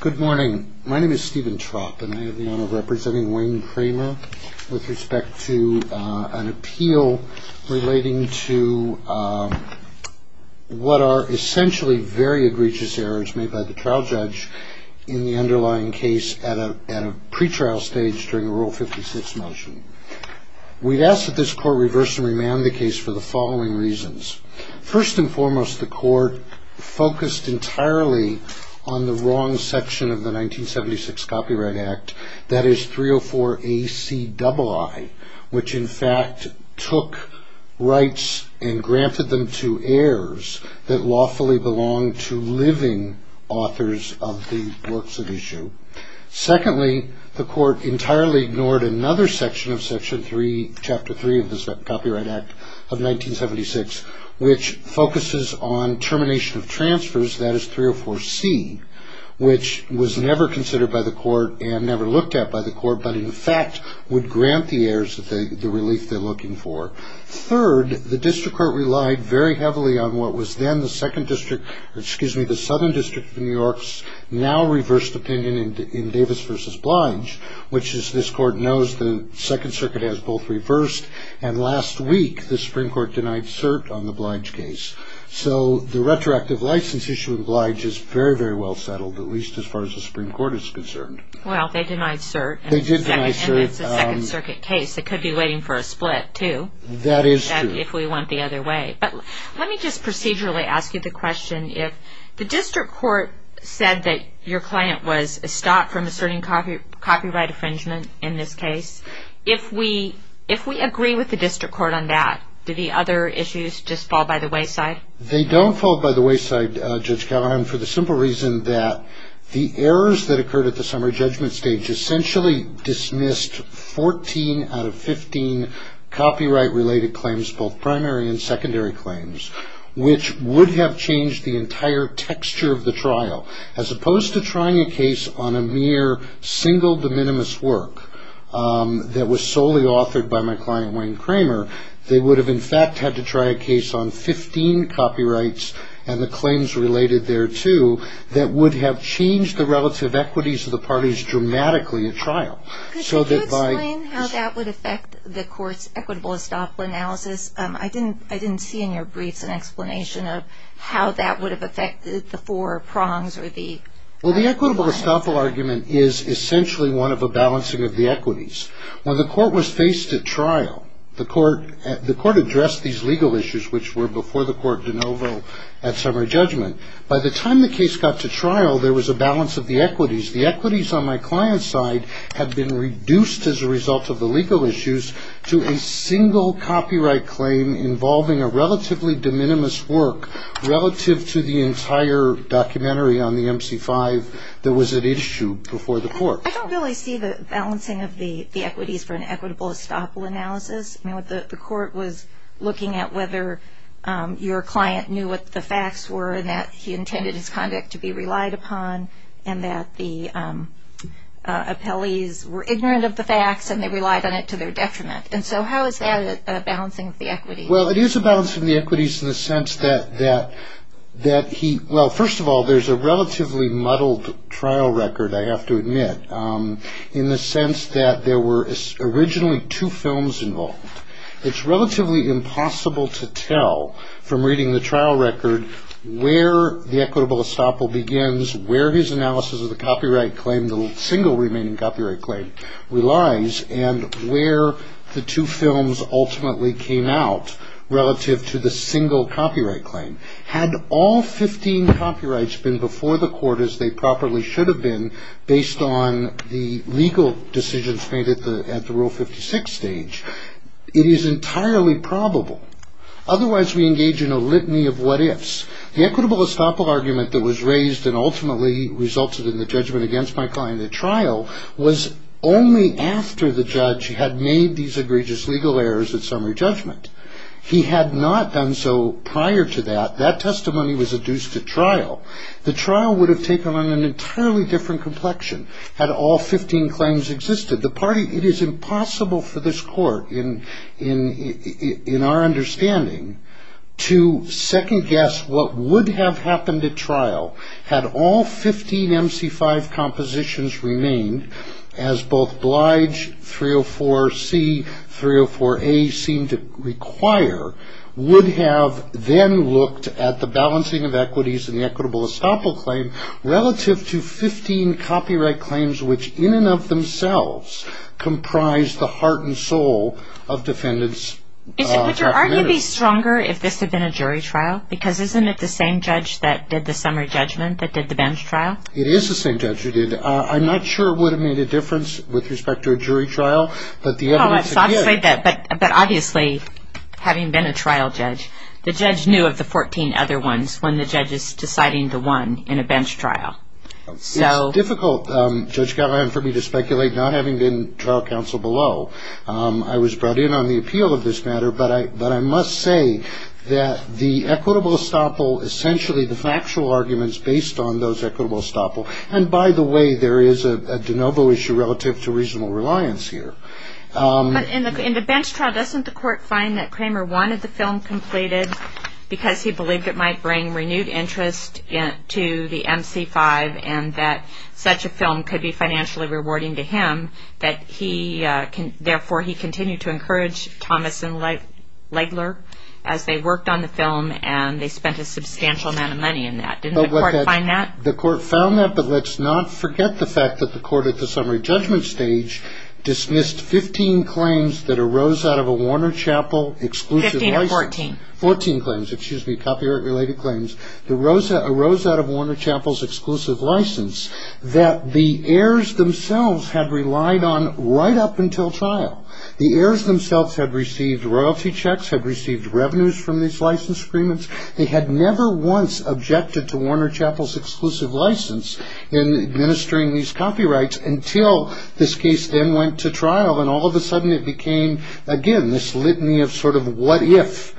Good morning. My name is Stephen Tropp and I have the honor of representing Wayne Kramer with respect to an appeal relating to what are essentially very egregious errors made by the trial judge in the underlying case at a pretrial stage during a Rule 56 motion. We ask that this court reverse and remand the case for the following reasons. First and foremost, the court focused entirely on the wrong section of the 1976 Copyright Act. That is 304 AC double I, which in fact took rights and granted them to heirs that lawfully belong to living authors of the works of issue. Secondly, the court entirely ignored another section of Section 3, Chapter 3 of the Copyright Act of 1976, which focuses on termination of transfers. That is 304 C, which was never considered by the court and never looked at by the court, but in fact would grant the heirs the relief they're looking for. Third, the district court relied very heavily on what was then the Southern District of New York's now reversed opinion in Davis v. Blige, which as this court knows the Second Circuit has both reversed and last week the Supreme Court denied cert on the Blige case. So the retroactive license issue in Blige is very, very well settled, at least as far as the Supreme Court is concerned. Well, they denied cert. They did deny cert. And it's a Second Circuit case. It could be waiting for a split, too. That is true. If we went the other way. But let me just procedurally ask you the question. If the district court said that your client was stopped from asserting copyright infringement in this case, if we agree with the district court on that, do the other issues just fall by the wayside? They don't fall by the wayside, Judge Callahan, for the simple reason that the errors that occurred at the summary judgment stage essentially dismissed 14 out of 15 copyright-related claims, both primary and secondary claims, which would have changed the entire texture of the trial. As opposed to trying a case on a mere single de minimis work that was solely authored by my client, Wayne Kramer, they would have in fact had to try a case on 15 copyrights and the claims related thereto that would have changed the relative equities of the parties dramatically at trial. Could you explain how that would affect the court's equitable estoppel analysis? I didn't see in your briefs an explanation of how that would have affected the four prongs or the… Well, the equitable estoppel argument is essentially one of a balancing of the equities. When the court was faced at trial, the court addressed these legal issues, which were before the court de novo at summary judgment. By the time the case got to trial, there was a balance of the equities. The equities on my client's side had been reduced as a result of the legal issues to a single copyright claim involving a relatively de minimis work relative to the entire documentary on the MC-5 that was at issue before the court. I don't really see the balancing of the equities for an equitable estoppel analysis. The court was looking at whether your client knew what the facts were that he intended his conduct to be relied upon and that the appellees were ignorant of the facts and they relied on it to their detriment. How is that a balancing of the equities? Well, it is a balancing of the equities in the sense that he… Well, first of all, there's a relatively muddled trial record, I have to admit, in the sense that there were originally two films involved. It's relatively impossible to tell from reading the trial record where the equitable estoppel begins, where his analysis of the copyright claim, the single remaining copyright claim, relies, and where the two films ultimately came out relative to the single copyright claim. Had all 15 copyrights been before the court as they properly should have been based on the legal decisions made at the Rule 56 stage, it is entirely probable. Otherwise, we engage in a litany of what-ifs. The equitable estoppel argument that was raised and ultimately resulted in the judgment against my client at trial was only after the judge had made these egregious legal errors at summary judgment. He had not done so prior to that. That testimony was adduced at trial. The trial would have taken on an entirely different complexion had all 15 claims existed. It is impossible for this court, in our understanding, to second-guess what would have happened at trial had all 15 MC5 compositions remained, as both Blige, 304C, 304A seem to require, would have then looked at the balancing of equities in the equitable estoppel claim relative to 15 copyright claims, which in and of themselves comprise the heart and soul of defendants. Would your argument be stronger if this had been a jury trial? Because isn't it the same judge that did the summary judgment that did the bench trial? It is the same judge who did it. I'm not sure it would have made a difference with respect to a jury trial. But obviously, having been a trial judge, the judge knew of the 14 other ones when the judge is deciding the one in a bench trial. It's difficult, Judge Gallagher, for me to speculate, not having been trial counsel below. I was brought in on the appeal of this matter, but I must say that the equitable estoppel, essentially the factual argument is based on those equitable estoppels. And by the way, there is a de novo issue relative to reasonable reliance here. In the bench trial, doesn't the court find that Kramer wanted the film completed because he believed it might bring renewed interest to the MC5 and that such a film could be financially rewarding to him, that he, therefore, he continued to encourage Thomas and Legler as they worked on the film, and they spent a substantial amount of money in that. Didn't the court find that? The court found that. But let's not forget the fact that the court at the summary judgment stage dismissed 15 claims that arose out of a Warner Chapel exclusive license. Fifteen or fourteen? Fourteen claims, excuse me, copyright-related claims that arose out of Warner Chapel's exclusive license that the heirs themselves had relied on right up until trial. The heirs themselves had received royalty checks, had received revenues from these license agreements. They had never once objected to Warner Chapel's exclusive license in administering these copyrights until this case then went to trial, and all of a sudden it became, again, this litany of sort of what if.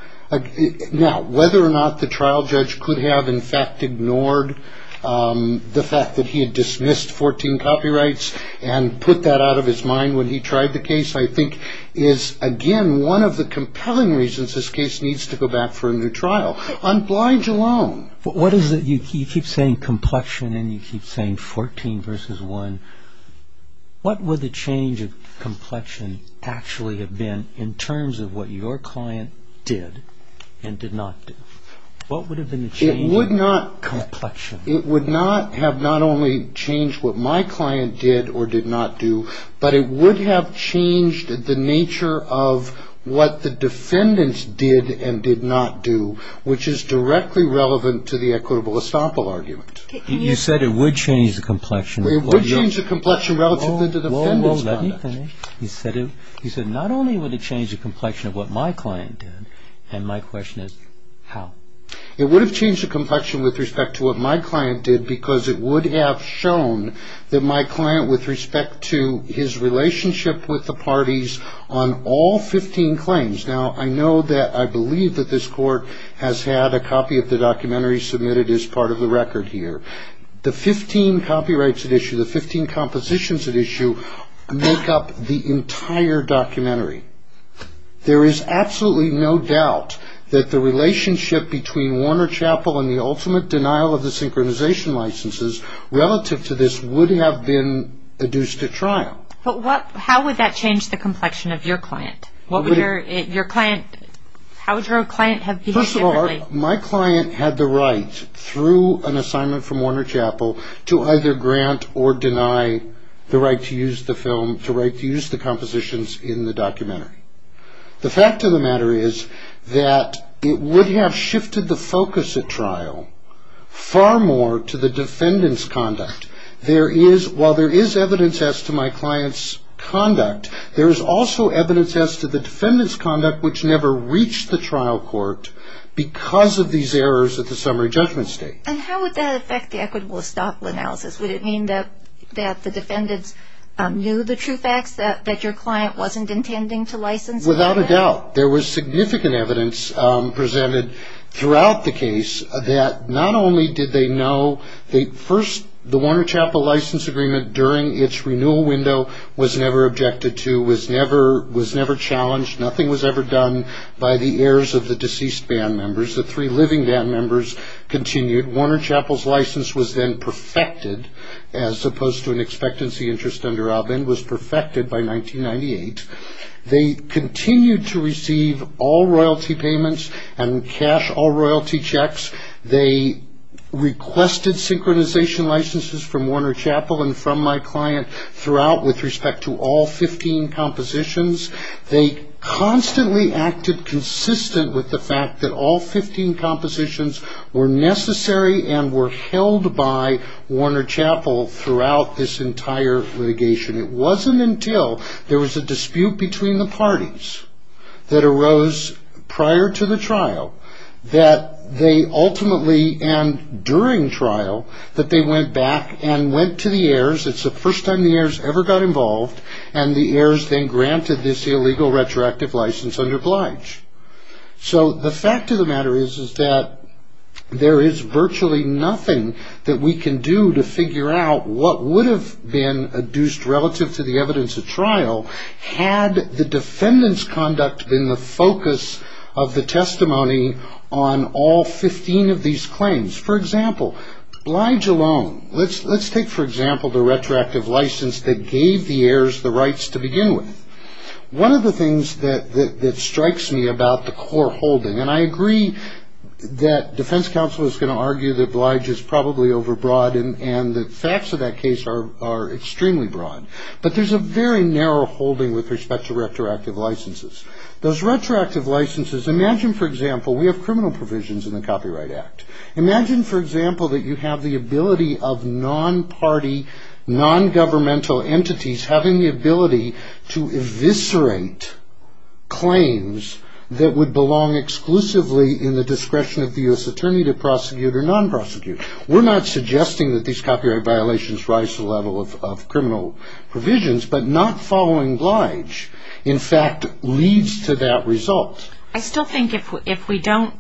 Now, whether or not the trial judge could have, in fact, ignored the fact that he had dismissed 14 copyrights and put that out of his mind when he tried the case, I think, is, again, one of the compelling reasons this case needs to go back for a new trial. On Blige alone. You keep saying complexion, and you keep saying 14 versus 1. What would the change of complexion actually have been in terms of what your client did and did not do? What would have been the change of complexion? It would not have not only changed what my client did or did not do, but it would have changed the nature of what the defendants did and did not do, which is directly relevant to the equitable estoppel argument. You said it would change the complexion. It would change the complexion relative to the defendants' conduct. He said not only would it change the complexion of what my client did, and my question is how? It would have changed the complexion with respect to what my client did because it would have shown that my client with respect to his relationship with the parties on all 15 claims. Now, I know that I believe that this court has had a copy of the documentary submitted as part of the record here. The 15 copyrights at issue, the 15 compositions at issue, make up the entire documentary. There is absolutely no doubt that the relationship between Warner Chappell and the ultimate denial of the synchronization licenses relative to this would have been adduced to trial. But how would that change the complexion of your client? How would your client have behaved differently? First of all, my client had the right through an assignment from Warner Chappell to either grant or deny the right to use the film, to right to use the compositions in the documentary. The fact of the matter is that it would have shifted the focus at trial far more to the defendants' conduct. While there is evidence as to my client's conduct, there is also evidence as to the defendants' conduct which never reached the trial court because of these errors at the summary judgment state. And how would that affect the equitable estoppel analysis? Would it mean that the defendants knew the true facts that your client wasn't intending to license? Without a doubt. There was significant evidence presented throughout the case that not only did they know the first, the Warner Chappell license agreement during its renewal window was never objected to, was never challenged, nothing was ever done by the heirs of the deceased band members, the three living band members continued. Warner Chappell's license was then perfected as opposed to an expectancy interest under Albin, was perfected by 1998. They continued to receive all royalty payments and cash all royalty checks. They requested synchronization licenses from Warner Chappell and from my client throughout with respect to all 15 compositions. They constantly acted consistent with the fact that all 15 compositions were necessary and were held by Warner Chappell throughout this entire litigation. It wasn't until there was a dispute between the parties that arose prior to the trial that they ultimately, and during trial, that they went back and went to the heirs. It's the first time the heirs ever got involved and the heirs then granted this illegal retroactive license under Blige. So the fact of the matter is that there is virtually nothing that we can do to figure out what would have been adduced relative to the evidence at trial had the defendant's conduct been the focus of the testimony on all 15 of these claims. For example, Blige alone, let's take, for example, the retroactive license that gave the heirs the rights to begin with. One of the things that strikes me about the core holding, and I agree that defense counsel is going to argue that Blige is probably overbroad and the facts of that case are extremely broad, but there's a very narrow holding with respect to retroactive licenses. Those retroactive licenses, imagine, for example, we have criminal provisions in the Copyright Act. Imagine, for example, that you have the ability of non-party, non-governmental entities having the ability to eviscerate claims that would belong exclusively in the discretion of the U.S. Attorney to prosecute or non-prosecute. We're not suggesting that these copyright violations rise to the level of criminal provisions, but not following Blige, in fact, leads to that result. I still think if we don't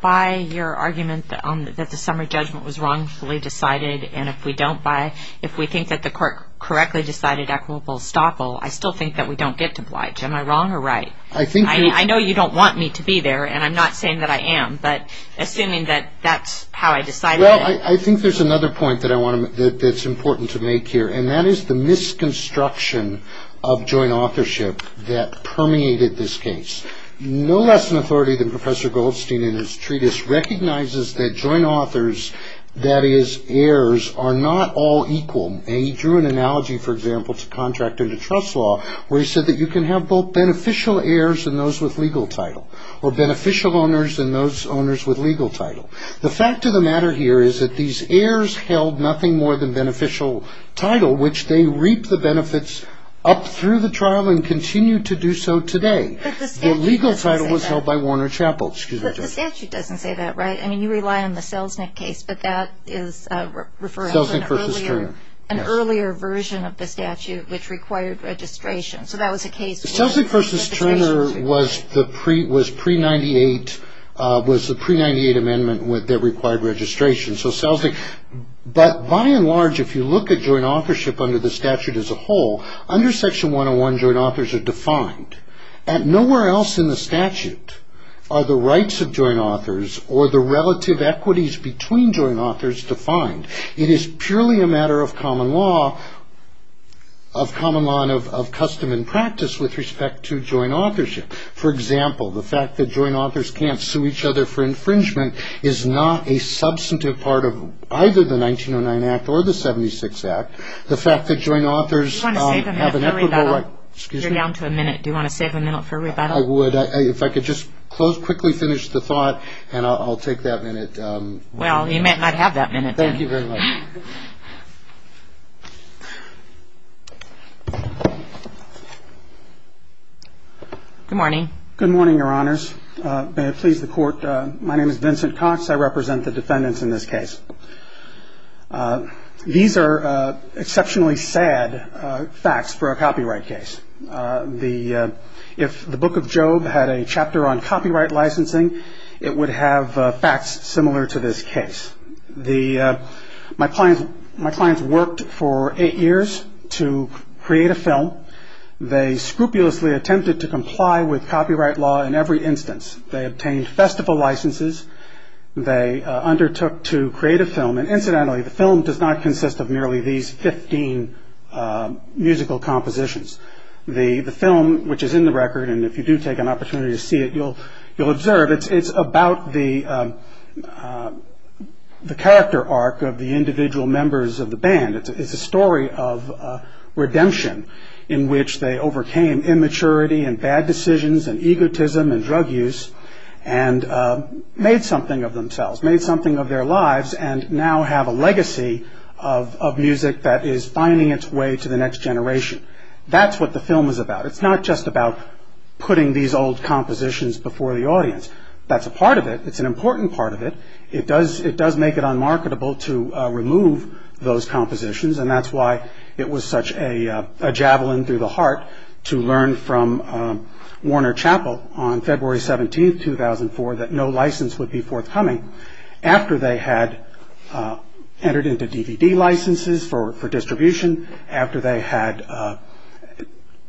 buy your argument that the summary judgment was wrongfully decided, and if we don't buy, if we think that the court correctly decided equitable estoppel, I still think that we don't get to Blige. Am I wrong or right? I know you don't want me to be there, and I'm not saying that I am, but assuming that that's how I decided it. Well, I think there's another point that's important to make here, and that is the misconstruction of joint authorship that permeated this case. No less an authority than Professor Goldstein in his treatise recognizes that joint authors, that is, heirs, are not all equal. And he drew an analogy, for example, to contract and to trust law, where he said that you can have both beneficial heirs and those with legal title, or beneficial owners and those owners with legal title. The fact of the matter here is that these heirs held nothing more than beneficial title, which they reaped the benefits up through the trial and continue to do so today. But the statute doesn't say that. The legal title was held by Warner Chapel. But the statute doesn't say that, right? I mean, you rely on the Selznick case, but that is referring to an earlier version of the statute, which required registration. Selznick v. Turner was the pre-'98 amendment that required registration. But by and large, if you look at joint authorship under the statute as a whole, under Section 101 joint authors are defined. Nowhere else in the statute are the rights of joint authors or the relative equities between joint authors defined. It is purely a matter of common law and of custom and practice with respect to joint authorship. For example, the fact that joint authors can't sue each other for infringement is not a substantive part of either the 1909 Act or the 1976 Act. The fact that joint authors have an equitable right. You're down to a minute. Do you want to save a minute for rebuttal? I would. If I could just quickly finish the thought, and I'll take that minute. Well, you might not have that minute then. Thank you very much. Good morning. Good morning, Your Honors. May it please the Court. My name is Vincent Cox. I represent the defendants in this case. These are exceptionally sad facts for a copyright case. If the Book of Job had a chapter on copyright licensing, it would have facts similar to this case. My clients worked for eight years to create a film. They scrupulously attempted to comply with copyright law in every instance. They obtained festival licenses. They undertook to create a film. Incidentally, the film does not consist of merely these 15 musical compositions. The film, which is in the record, and if you do take an opportunity to see it, you'll observe, it's about the character arc of the individual members of the band. It's a story of redemption in which they overcame immaturity and bad decisions and egotism and drug use and made something of themselves, made something of their lives, and now have a legacy of music that is finding its way to the next generation. That's what the film is about. It's not just about putting these old compositions before the audience. That's a part of it. It's an important part of it. It does make it unmarketable to remove those compositions, and that's why it was such a javelin through the heart to learn from Warner Chappell on February 17, 2004, that no license would be forthcoming after they had entered into DVD licenses for distribution, after they had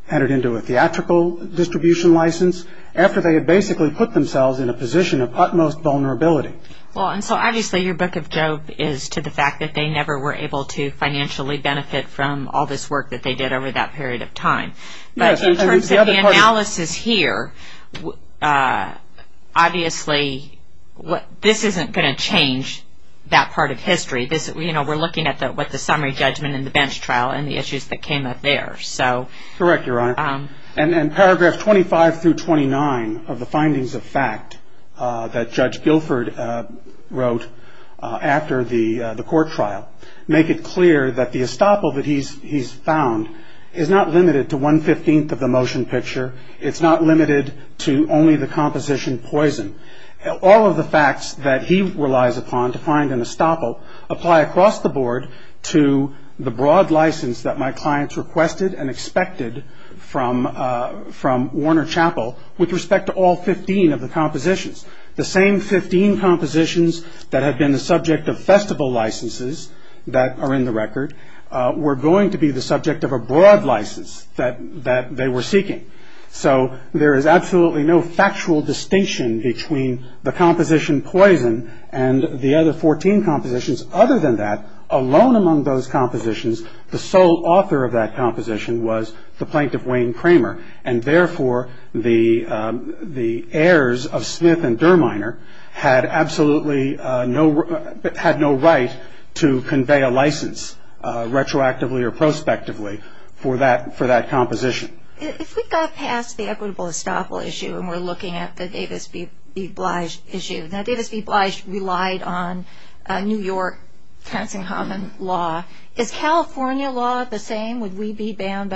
entered into a theatrical distribution license, after they had basically put themselves in a position of utmost vulnerability. Well, and so obviously your book of Job is to the fact that they never were able to financially benefit from all this work that they did over that period of time. But in terms of the analysis here, obviously this isn't going to change that part of history. We're looking at what the summary judgment in the bench trial and the issues that came up there. Correct, Your Honor. And paragraph 25 through 29 of the findings of fact that Judge Guilford wrote after the court trial make it clear that the estoppel that he's found is not limited to one-fifteenth of the motion picture. It's not limited to only the composition Poison. All of the facts that he relies upon to find an estoppel apply across the board to the broad license that my clients requested and expected from Warner Chappell with respect to all 15 of the compositions. The same 15 compositions that have been the subject of festival licenses that are in the record were going to be the subject of a broad license that they were seeking. So there is absolutely no factual distinction between the composition Poison and the other 14 compositions. Other than that, alone among those compositions, the sole author of that composition was the Plaintiff Wayne Kramer. And therefore, the heirs of Smith and Derminer had absolutely no right to convey a license retroactively or prospectively for that composition. If we got past the equitable estoppel issue and we're looking at the Davis v. Blige issue, now Davis v. Blige relied on New York, Tenzing-Hammond law. Is California law the same? Would we be banned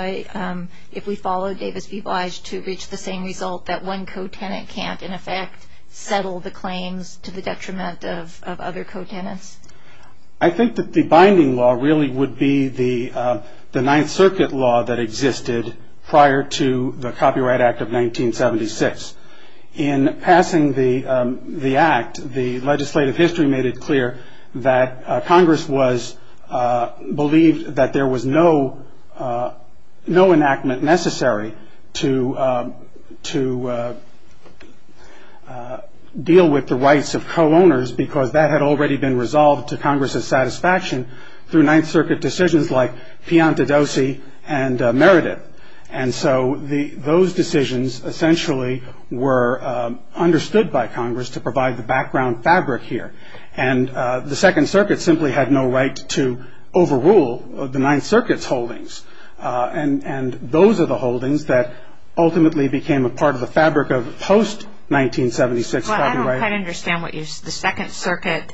if we followed Davis v. Blige to reach the same result that one co-tenant can't, in effect, settle the claims to the detriment of other co-tenants? I think that the binding law really would be the Ninth Circuit law that existed prior to the Copyright Act of 1976. In passing the act, the legislative history made it clear that Congress believed that there was no enactment necessary to deal with the rights of co-owners because that had already been resolved to Congress's satisfaction through Ninth Circuit decisions like Piantadosi and Meredith. And so those decisions essentially were understood by Congress to provide the background fabric here. And the Second Circuit simply had no right to overrule the Ninth Circuit's holdings. And those are the holdings that ultimately became a part of the fabric of post-1976 copyright. Well, I don't quite understand what you're saying. The Second Circuit,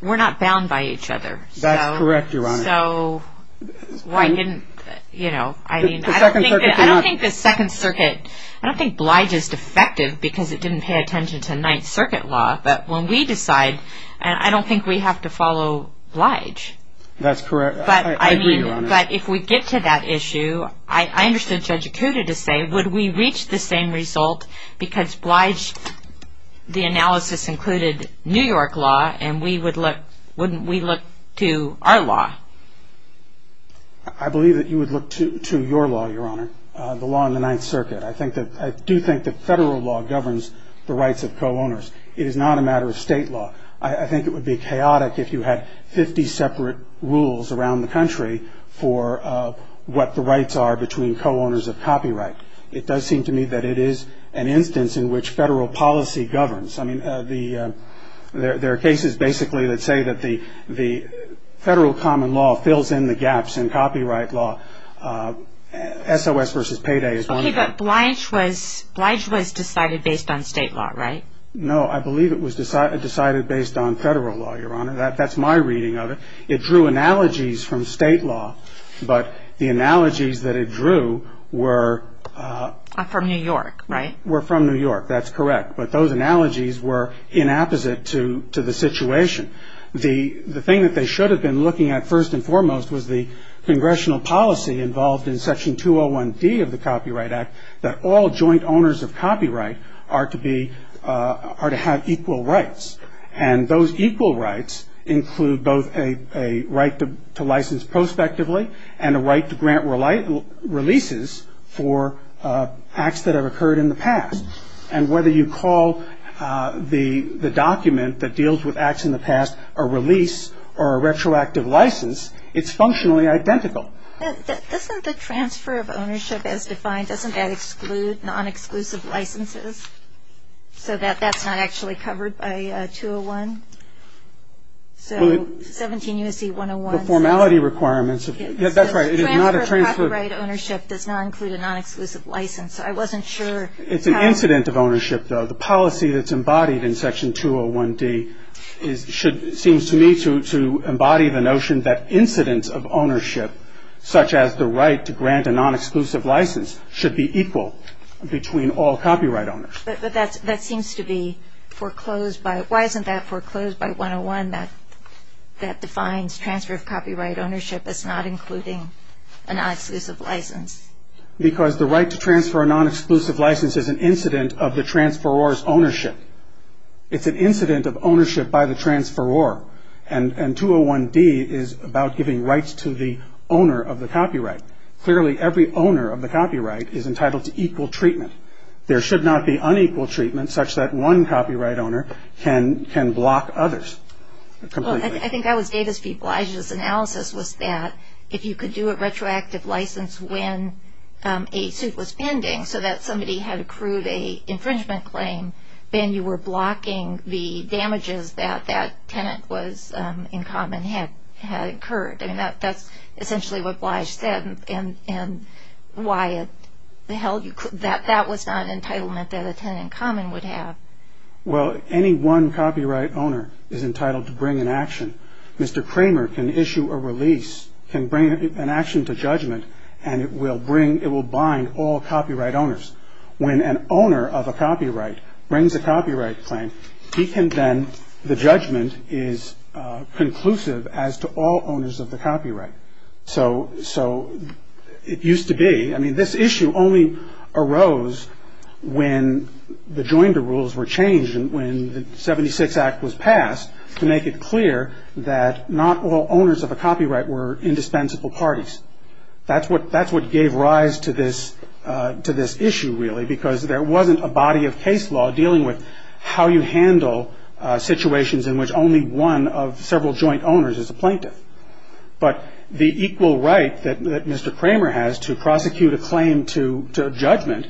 we're not bound by each other. That's correct, Your Honor. I don't think Blige is defective because it didn't pay attention to Ninth Circuit law. But when we decide, I don't think we have to follow Blige. That's correct. I agree, Your Honor. But if we get to that issue, I understood Judge Acuda to say, would we reach the same result because Blige, the analysis included New York law, and wouldn't we look to our law? I believe that you would look to your law, Your Honor, the law in the Ninth Circuit. I do think that federal law governs the rights of co-owners. It is not a matter of state law. I think it would be chaotic if you had 50 separate rules around the country for what the rights are between co-owners of copyright. It does seem to me that it is an instance in which federal policy governs. I mean, there are cases basically that say that the federal common law fills in the gaps in copyright law. SOS versus payday is one of them. Okay, but Blige was decided based on state law, right? No, I believe it was decided based on federal law, Your Honor. That's my reading of it. It drew analogies from state law, but the analogies that it drew were from New York, right? Were from New York, that's correct, but those analogies were inapposite to the situation. The thing that they should have been looking at first and foremost was the congressional policy involved in Section 201D of the Copyright Act that all joint owners of copyright are to have equal rights, and those equal rights include both a right to license prospectively and a right to grant releases for acts that have occurred in the past. And whether you call the document that deals with acts in the past a release or a retroactive license, it's functionally identical. Isn't the transfer of ownership as defined, doesn't that exclude non-exclusive licenses so that that's not actually covered by 201? So 17 U.S.C. 101. The formality requirements, that's right, it is not a transfer. The transfer of copyright ownership does not include a non-exclusive license. I wasn't sure. It's an incident of ownership, though. The policy that's embodied in Section 201D seems to me to embody the notion that incidents of ownership, such as the right to grant a non-exclusive license, should be equal between all copyright owners. But that seems to be foreclosed by, why isn't that foreclosed by 101, that defines transfer of copyright ownership as not including a non-exclusive license? Because the right to transfer a non-exclusive license is an incident of the transferor's ownership. It's an incident of ownership by the transferor, and 201D is about giving rights to the owner of the copyright. Clearly, every owner of the copyright is entitled to equal treatment. There should not be unequal treatment such that one copyright owner can block others. I think that was Davis v. Blige's analysis, was that if you could do a retroactive license when a suit was pending so that somebody had accrued an infringement claim, then you were blocking the damages that that tenant was in common had incurred. I mean, that's essentially what Blige said, and why the hell that was not an entitlement that a tenant in common would have. Well, any one copyright owner is entitled to bring an action. Mr. Kramer can issue a release, can bring an action to judgment, and it will bind all copyright owners. When an owner of a copyright brings a copyright claim, he can then, the judgment is conclusive as to all owners of the copyright. So it used to be, I mean, this issue only arose when the Joinder Rules were changed and when the 76 Act was passed to make it clear that not all owners of a copyright were indispensable parties. That's what gave rise to this issue, really, because there wasn't a body of case law dealing with how you handle situations in which only one of several joint owners is a plaintiff. But the equal right that Mr. Kramer has to prosecute a claim to judgment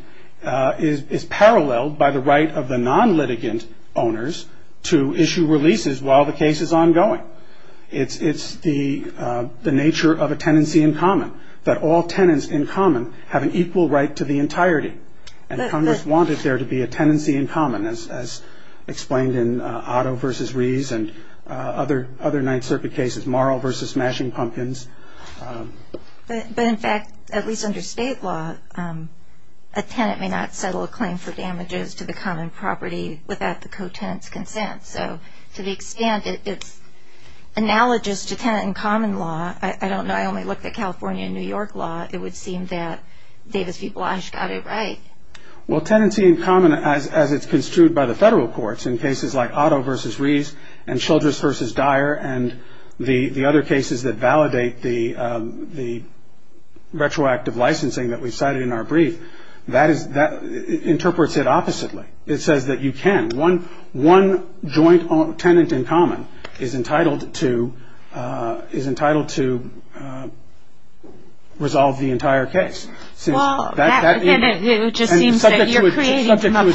is paralleled by the right of the non-litigant owners to issue releases while the case is ongoing. It's the nature of a tenancy in common, that all tenants in common have an equal right to the entirety. And Congress wanted there to be a tenancy in common, as explained in Otto v. Rees and other Ninth Circuit cases, Marl v. Smashing Pumpkins. But in fact, at least under state law, a tenant may not settle a claim for damages to the common property without the co-tenant's consent. So to the extent it's analogous to tenant in common law, I don't know, I only looked at California and New York law, it would seem that Davis v. Blasch got it right. Well, tenancy in common, as it's construed by the federal courts, in cases like Otto v. Rees and Childress v. Dyer and the other cases that validate the retroactive licensing that we cited in our brief, that interprets it oppositely. It says that you can. One joint tenant in common is entitled to resolve the entire case. Well, then it just seems that you're creating from a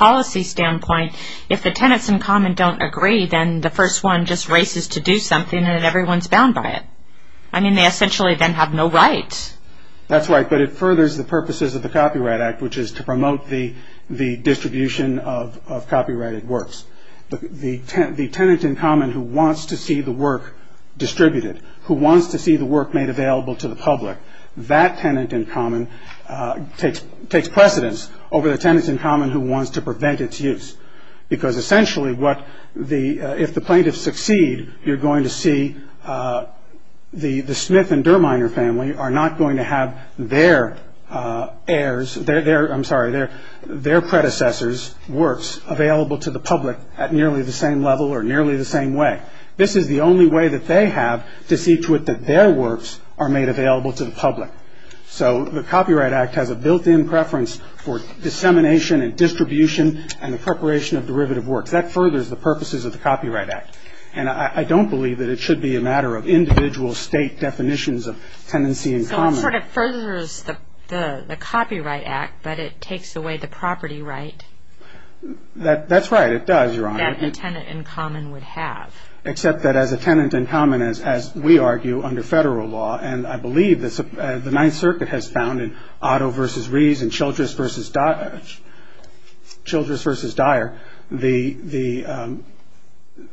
policy standpoint, if the tenants in common don't agree, then the first one just races to do something and everyone's bound by it. I mean, they essentially then have no right. That's right, but it furthers the purposes of the Copyright Act, which is to promote the distribution of copyrighted works. The tenant in common who wants to see the work distributed, who wants to see the work made available to the public, that tenant in common takes precedence over the tenant in common who wants to prevent its use. Because essentially, if the plaintiffs succeed, you're going to see the Smith and Derminer family are not going to have their predecessors' works available to the public at nearly the same level or nearly the same way. This is the only way that they have to see to it that their works are made available to the public. So the Copyright Act has a built-in preference for dissemination and distribution and the preparation of derivative works. That furthers the purposes of the Copyright Act. And I don't believe that it should be a matter of individual state definitions of tenancy in common. So it sort of furthers the Copyright Act, but it takes away the property right? That's right, it does, Your Honor. That a tenant in common would have. Except that as a tenant in common, as we argue under federal law, and I believe the Ninth Circuit has found in Otto v. Rees and Childress v. Dyer,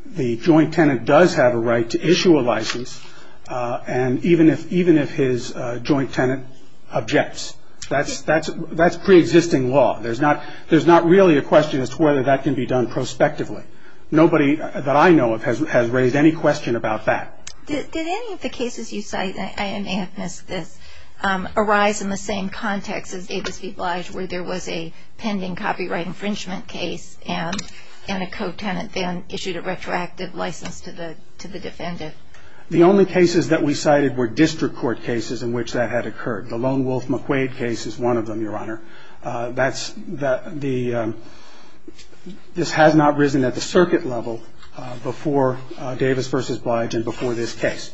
the joint tenant does have a right to issue a license even if his joint tenant objects. That's pre-existing law. There's not really a question as to whether that can be done prospectively. Nobody that I know of has raised any question about that. Did any of the cases you cite, and I may have missed this, arise in the same context as Davis v. Blige where there was a pending copyright infringement case and a co-tenant then issued a retroactive license to the defendant? The only cases that we cited were district court cases in which that had occurred. The Lone Wolf McQuaid case is one of them, Your Honor. This has not risen at the circuit level before Davis v. Blige and before this case.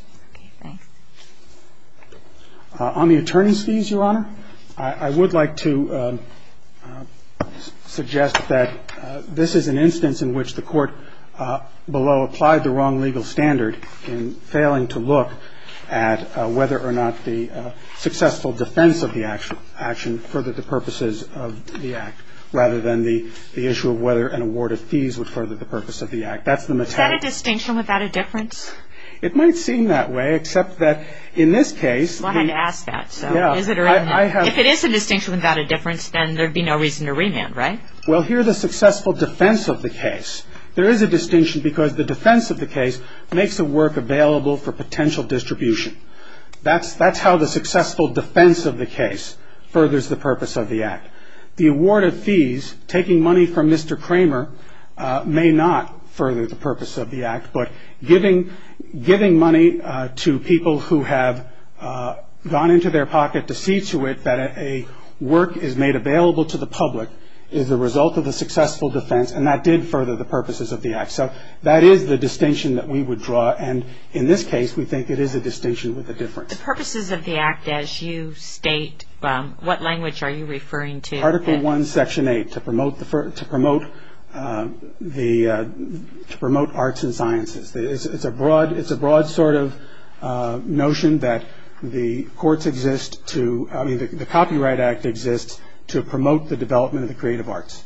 On the attorney's fees, Your Honor, I would like to suggest that this is an instance in which the court below applied the wrong legal standard in failing to look at whether or not the successful defense of the action furthered the purposes of the Act, rather than the issue of whether an award of fees would further the purpose of the Act. That's the metaphor. Is that a distinction without a difference? It might seem that way, except that in this case. Well, I had to ask that. Yeah. If it is a distinction without a difference, then there would be no reason to remand, right? Well, here the successful defense of the case. There is a distinction because the defense of the case makes the work available for potential distribution. That's how the successful defense of the case furthers the purpose of the Act. The award of fees, taking money from Mr. Kramer, may not further the purpose of the Act, but giving money to people who have gone into their pocket to see to it that a work is made available to the public is the result of the successful defense, and that did further the purposes of the Act. So that is the distinction that we would draw. And in this case, we think it is a distinction with a difference. The purposes of the Act as you state, what language are you referring to? Article 1, Section 8, to promote arts and sciences. It's a broad sort of notion that the copyright act exists to promote the development of the creative arts.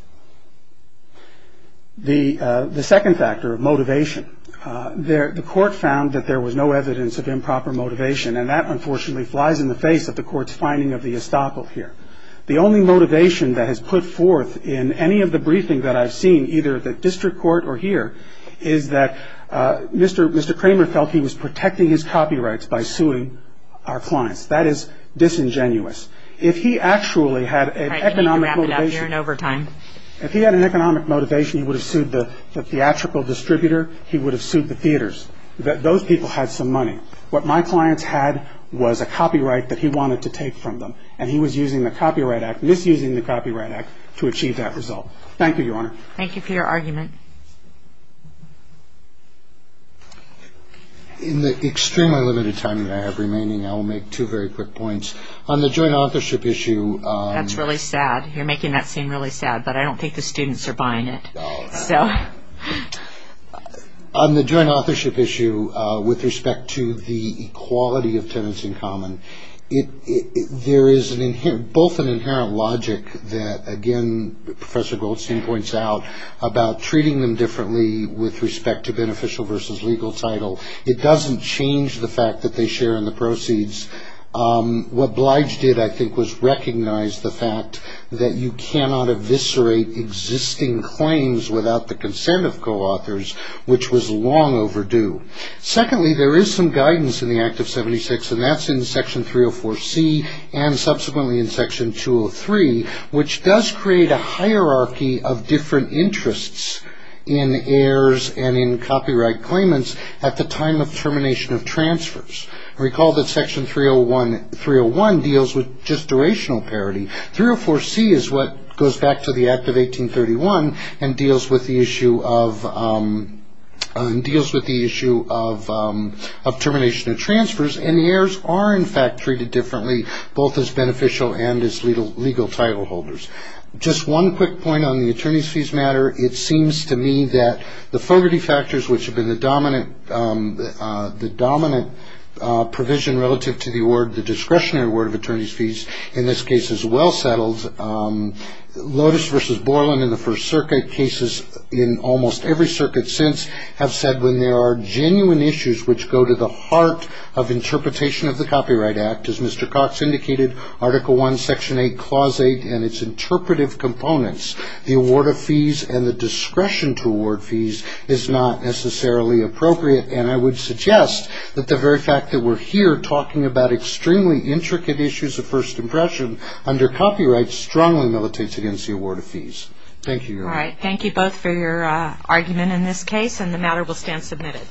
The second factor of motivation. The court found that there was no evidence of improper motivation, and that unfortunately flies in the face of the court's finding of the estoppel here. The only motivation that has put forth in any of the briefing that I've seen, either at the district court or here, is that Mr. Kramer felt he was protecting his copyrights by suing our clients. That is disingenuous. If he actually had an economic motivation, if he had an economic motivation, he would have sued the theatrical distributor, he would have sued the theaters. Those people had some money. What my clients had was a copyright that he wanted to take from them, and he was using the Copyright Act, misusing the Copyright Act, to achieve that result. Thank you, Your Honor. Thank you for your argument. In the extremely limited time that I have remaining, I will make two very quick points. On the joint authorship issue. That's really sad. You're making that seem really sad, but I don't think the students are buying it. On the joint authorship issue, with respect to the equality of tenants in common, there is both an inherent logic that, again, Professor Goldstein points out, about treating them differently with respect to beneficial versus legal title. It doesn't change the fact that they share in the proceeds. What Blige did, I think, was recognize the fact that you cannot eviscerate existing claims without the consent of co-authors, which was long overdue. Secondly, there is some guidance in the Act of 76, and that's in Section 304C, and subsequently in Section 203, which does create a hierarchy of different interests in heirs and in copyright claimants at the time of termination of transfers. Recall that Section 301 deals with just durational parity. 304C is what goes back to the Act of 1831 and deals with the issue of termination of transfers, and the heirs are, in fact, treated differently, both as beneficial and as legal title holders. Just one quick point on the attorney's fees matter. It seems to me that the Fogarty factors, which have been the dominant provision relative to the award, the discretionary award of attorney's fees, in this case is well settled. Lotus v. Borland in the First Circuit, cases in almost every circuit since, have said when there are genuine issues which go to the heart of interpretation of the Copyright Act, as Mr. Cox indicated, Article I, Section 8, Clause 8, and its interpretive components, the award of fees and the discretion to award fees is not necessarily appropriate, and I would suggest that the very fact that we're here talking about extremely intricate issues of first impression under copyright strongly militates against the award of fees. Thank you, Your Honor. All right, thank you both for your argument in this case, and the matter will stand submitted.